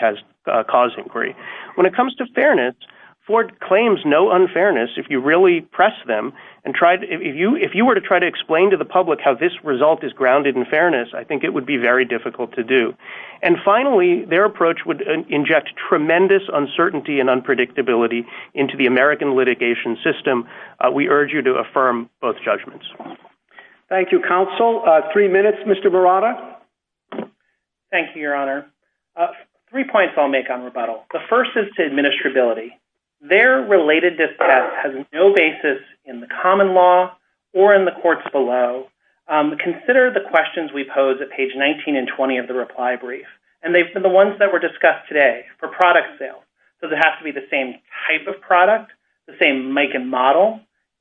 cause inquiry. When it comes to fairness, Ford claims no unfairness. If you really press them and try to, if you were to try to explain to the public how this result is grounded in fairness, I think it would be very difficult to do. And finally, their approach would inject tremendous uncertainty and unpredictability into the American litigation system. We urge you to affirm both judgments. Thank you, Counsel. Three minutes, Mr. Barada. Thank you, Your Honor. Three points I'll make on rebuttal. The first is to administrability. Their related discussion has no basis in the common law or in the courts below. Consider the questions we pose at page 19 and 20 of the reply brief. And they've been the ones that were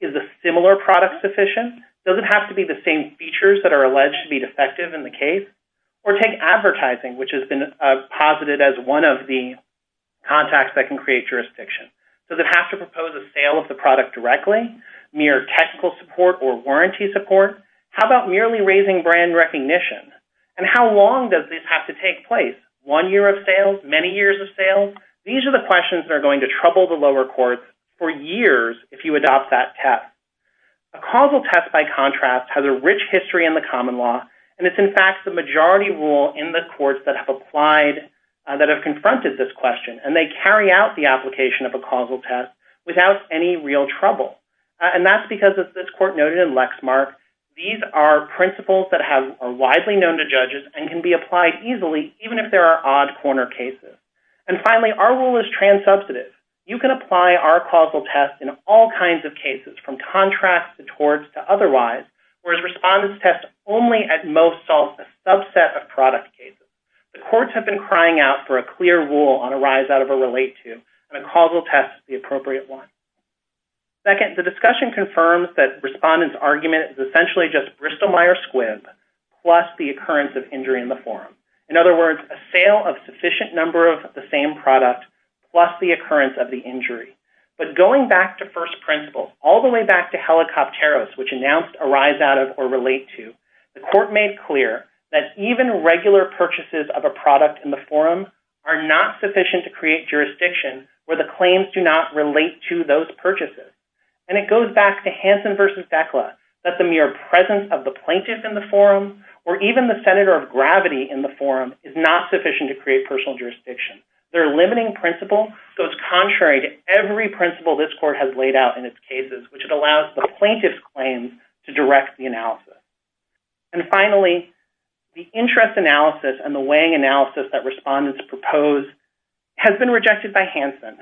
Is the similar product sufficient? Does it have to be the same features that are alleged to be defective in the case? Or take advertising, which has been posited as one of the contacts that can create jurisdiction. Does it have to propose a sale of the product directly, mere technical support or warranty support? How about merely raising brand recognition? And how long does this have to take place? One year of sales, many years of sales? These are the questions that are going to trouble the lower courts for years if you adopt that test. A causal test, by contrast, has a rich history in the common law. And it's, in fact, the majority rule in the courts that have applied, that have confronted this question. And they carry out the application of a causal test without any real trouble. And that's because, as this court noted in Lexmark, these are principles that are widely known to judges and can be applied easily, even if there are odd corner cases. And finally, our rule is trans-substantive. You can apply our causal test in all kinds of cases, from contrast to towards to otherwise, whereas respondents' tests only, at most, solve a subset of product cases. The courts have been crying out for a clear rule on a rise out of a relate-to, and a causal test is the appropriate one. Second, the discussion confirms that respondents' argument is essentially just Bristol-Myers Squibb plus the occurrence of injury in the forum. In other words, a sale of sufficient number of the same product plus the occurrence of the injury. But going back to first principles, all the way back to Helicopteros, which announced a rise out of or relate-to, the court made clear that even regular purchases of a product in the forum are not sufficient to create jurisdiction where the claims do not relate to those purchases. And it goes back to Hansen v. Fekla that the mere presence of the plaintiff in the forum, or even the senator of gravity in the forum, is not sufficient to create personal jurisdiction. Their limiting principle goes contrary to every principle this court has laid out in its cases, which it allows the plaintiff's claims to direct the analysis. And finally, the interest analysis and the weighing analysis that respondents propose has been rejected by Hansen.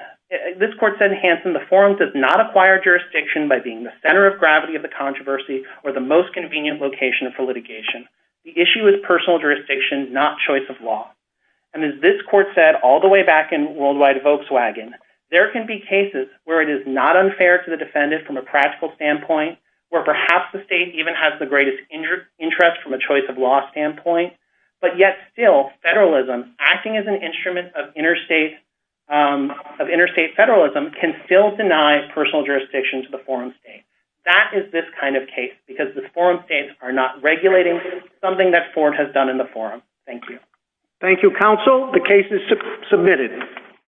This court said in Hansen, the forum does not acquire jurisdiction by being the center of gravity of the controversy or the most convenient location for litigation. The issue is personal jurisdiction, not choice of law. And as this court said all the way back in Worldwide Volkswagen, there can be cases where it is not unfair to the defendant from a practical standpoint, where perhaps the state even has the greatest interest from a choice of law standpoint, but yet still federalism, acting as an instrument of interstate federalism, can still deny personal jurisdiction to the forum state. That is this kind of case, because the forum states are not regulating something that Ford has done in the forum. Thank you. Thank you, counsel. The case is submitted.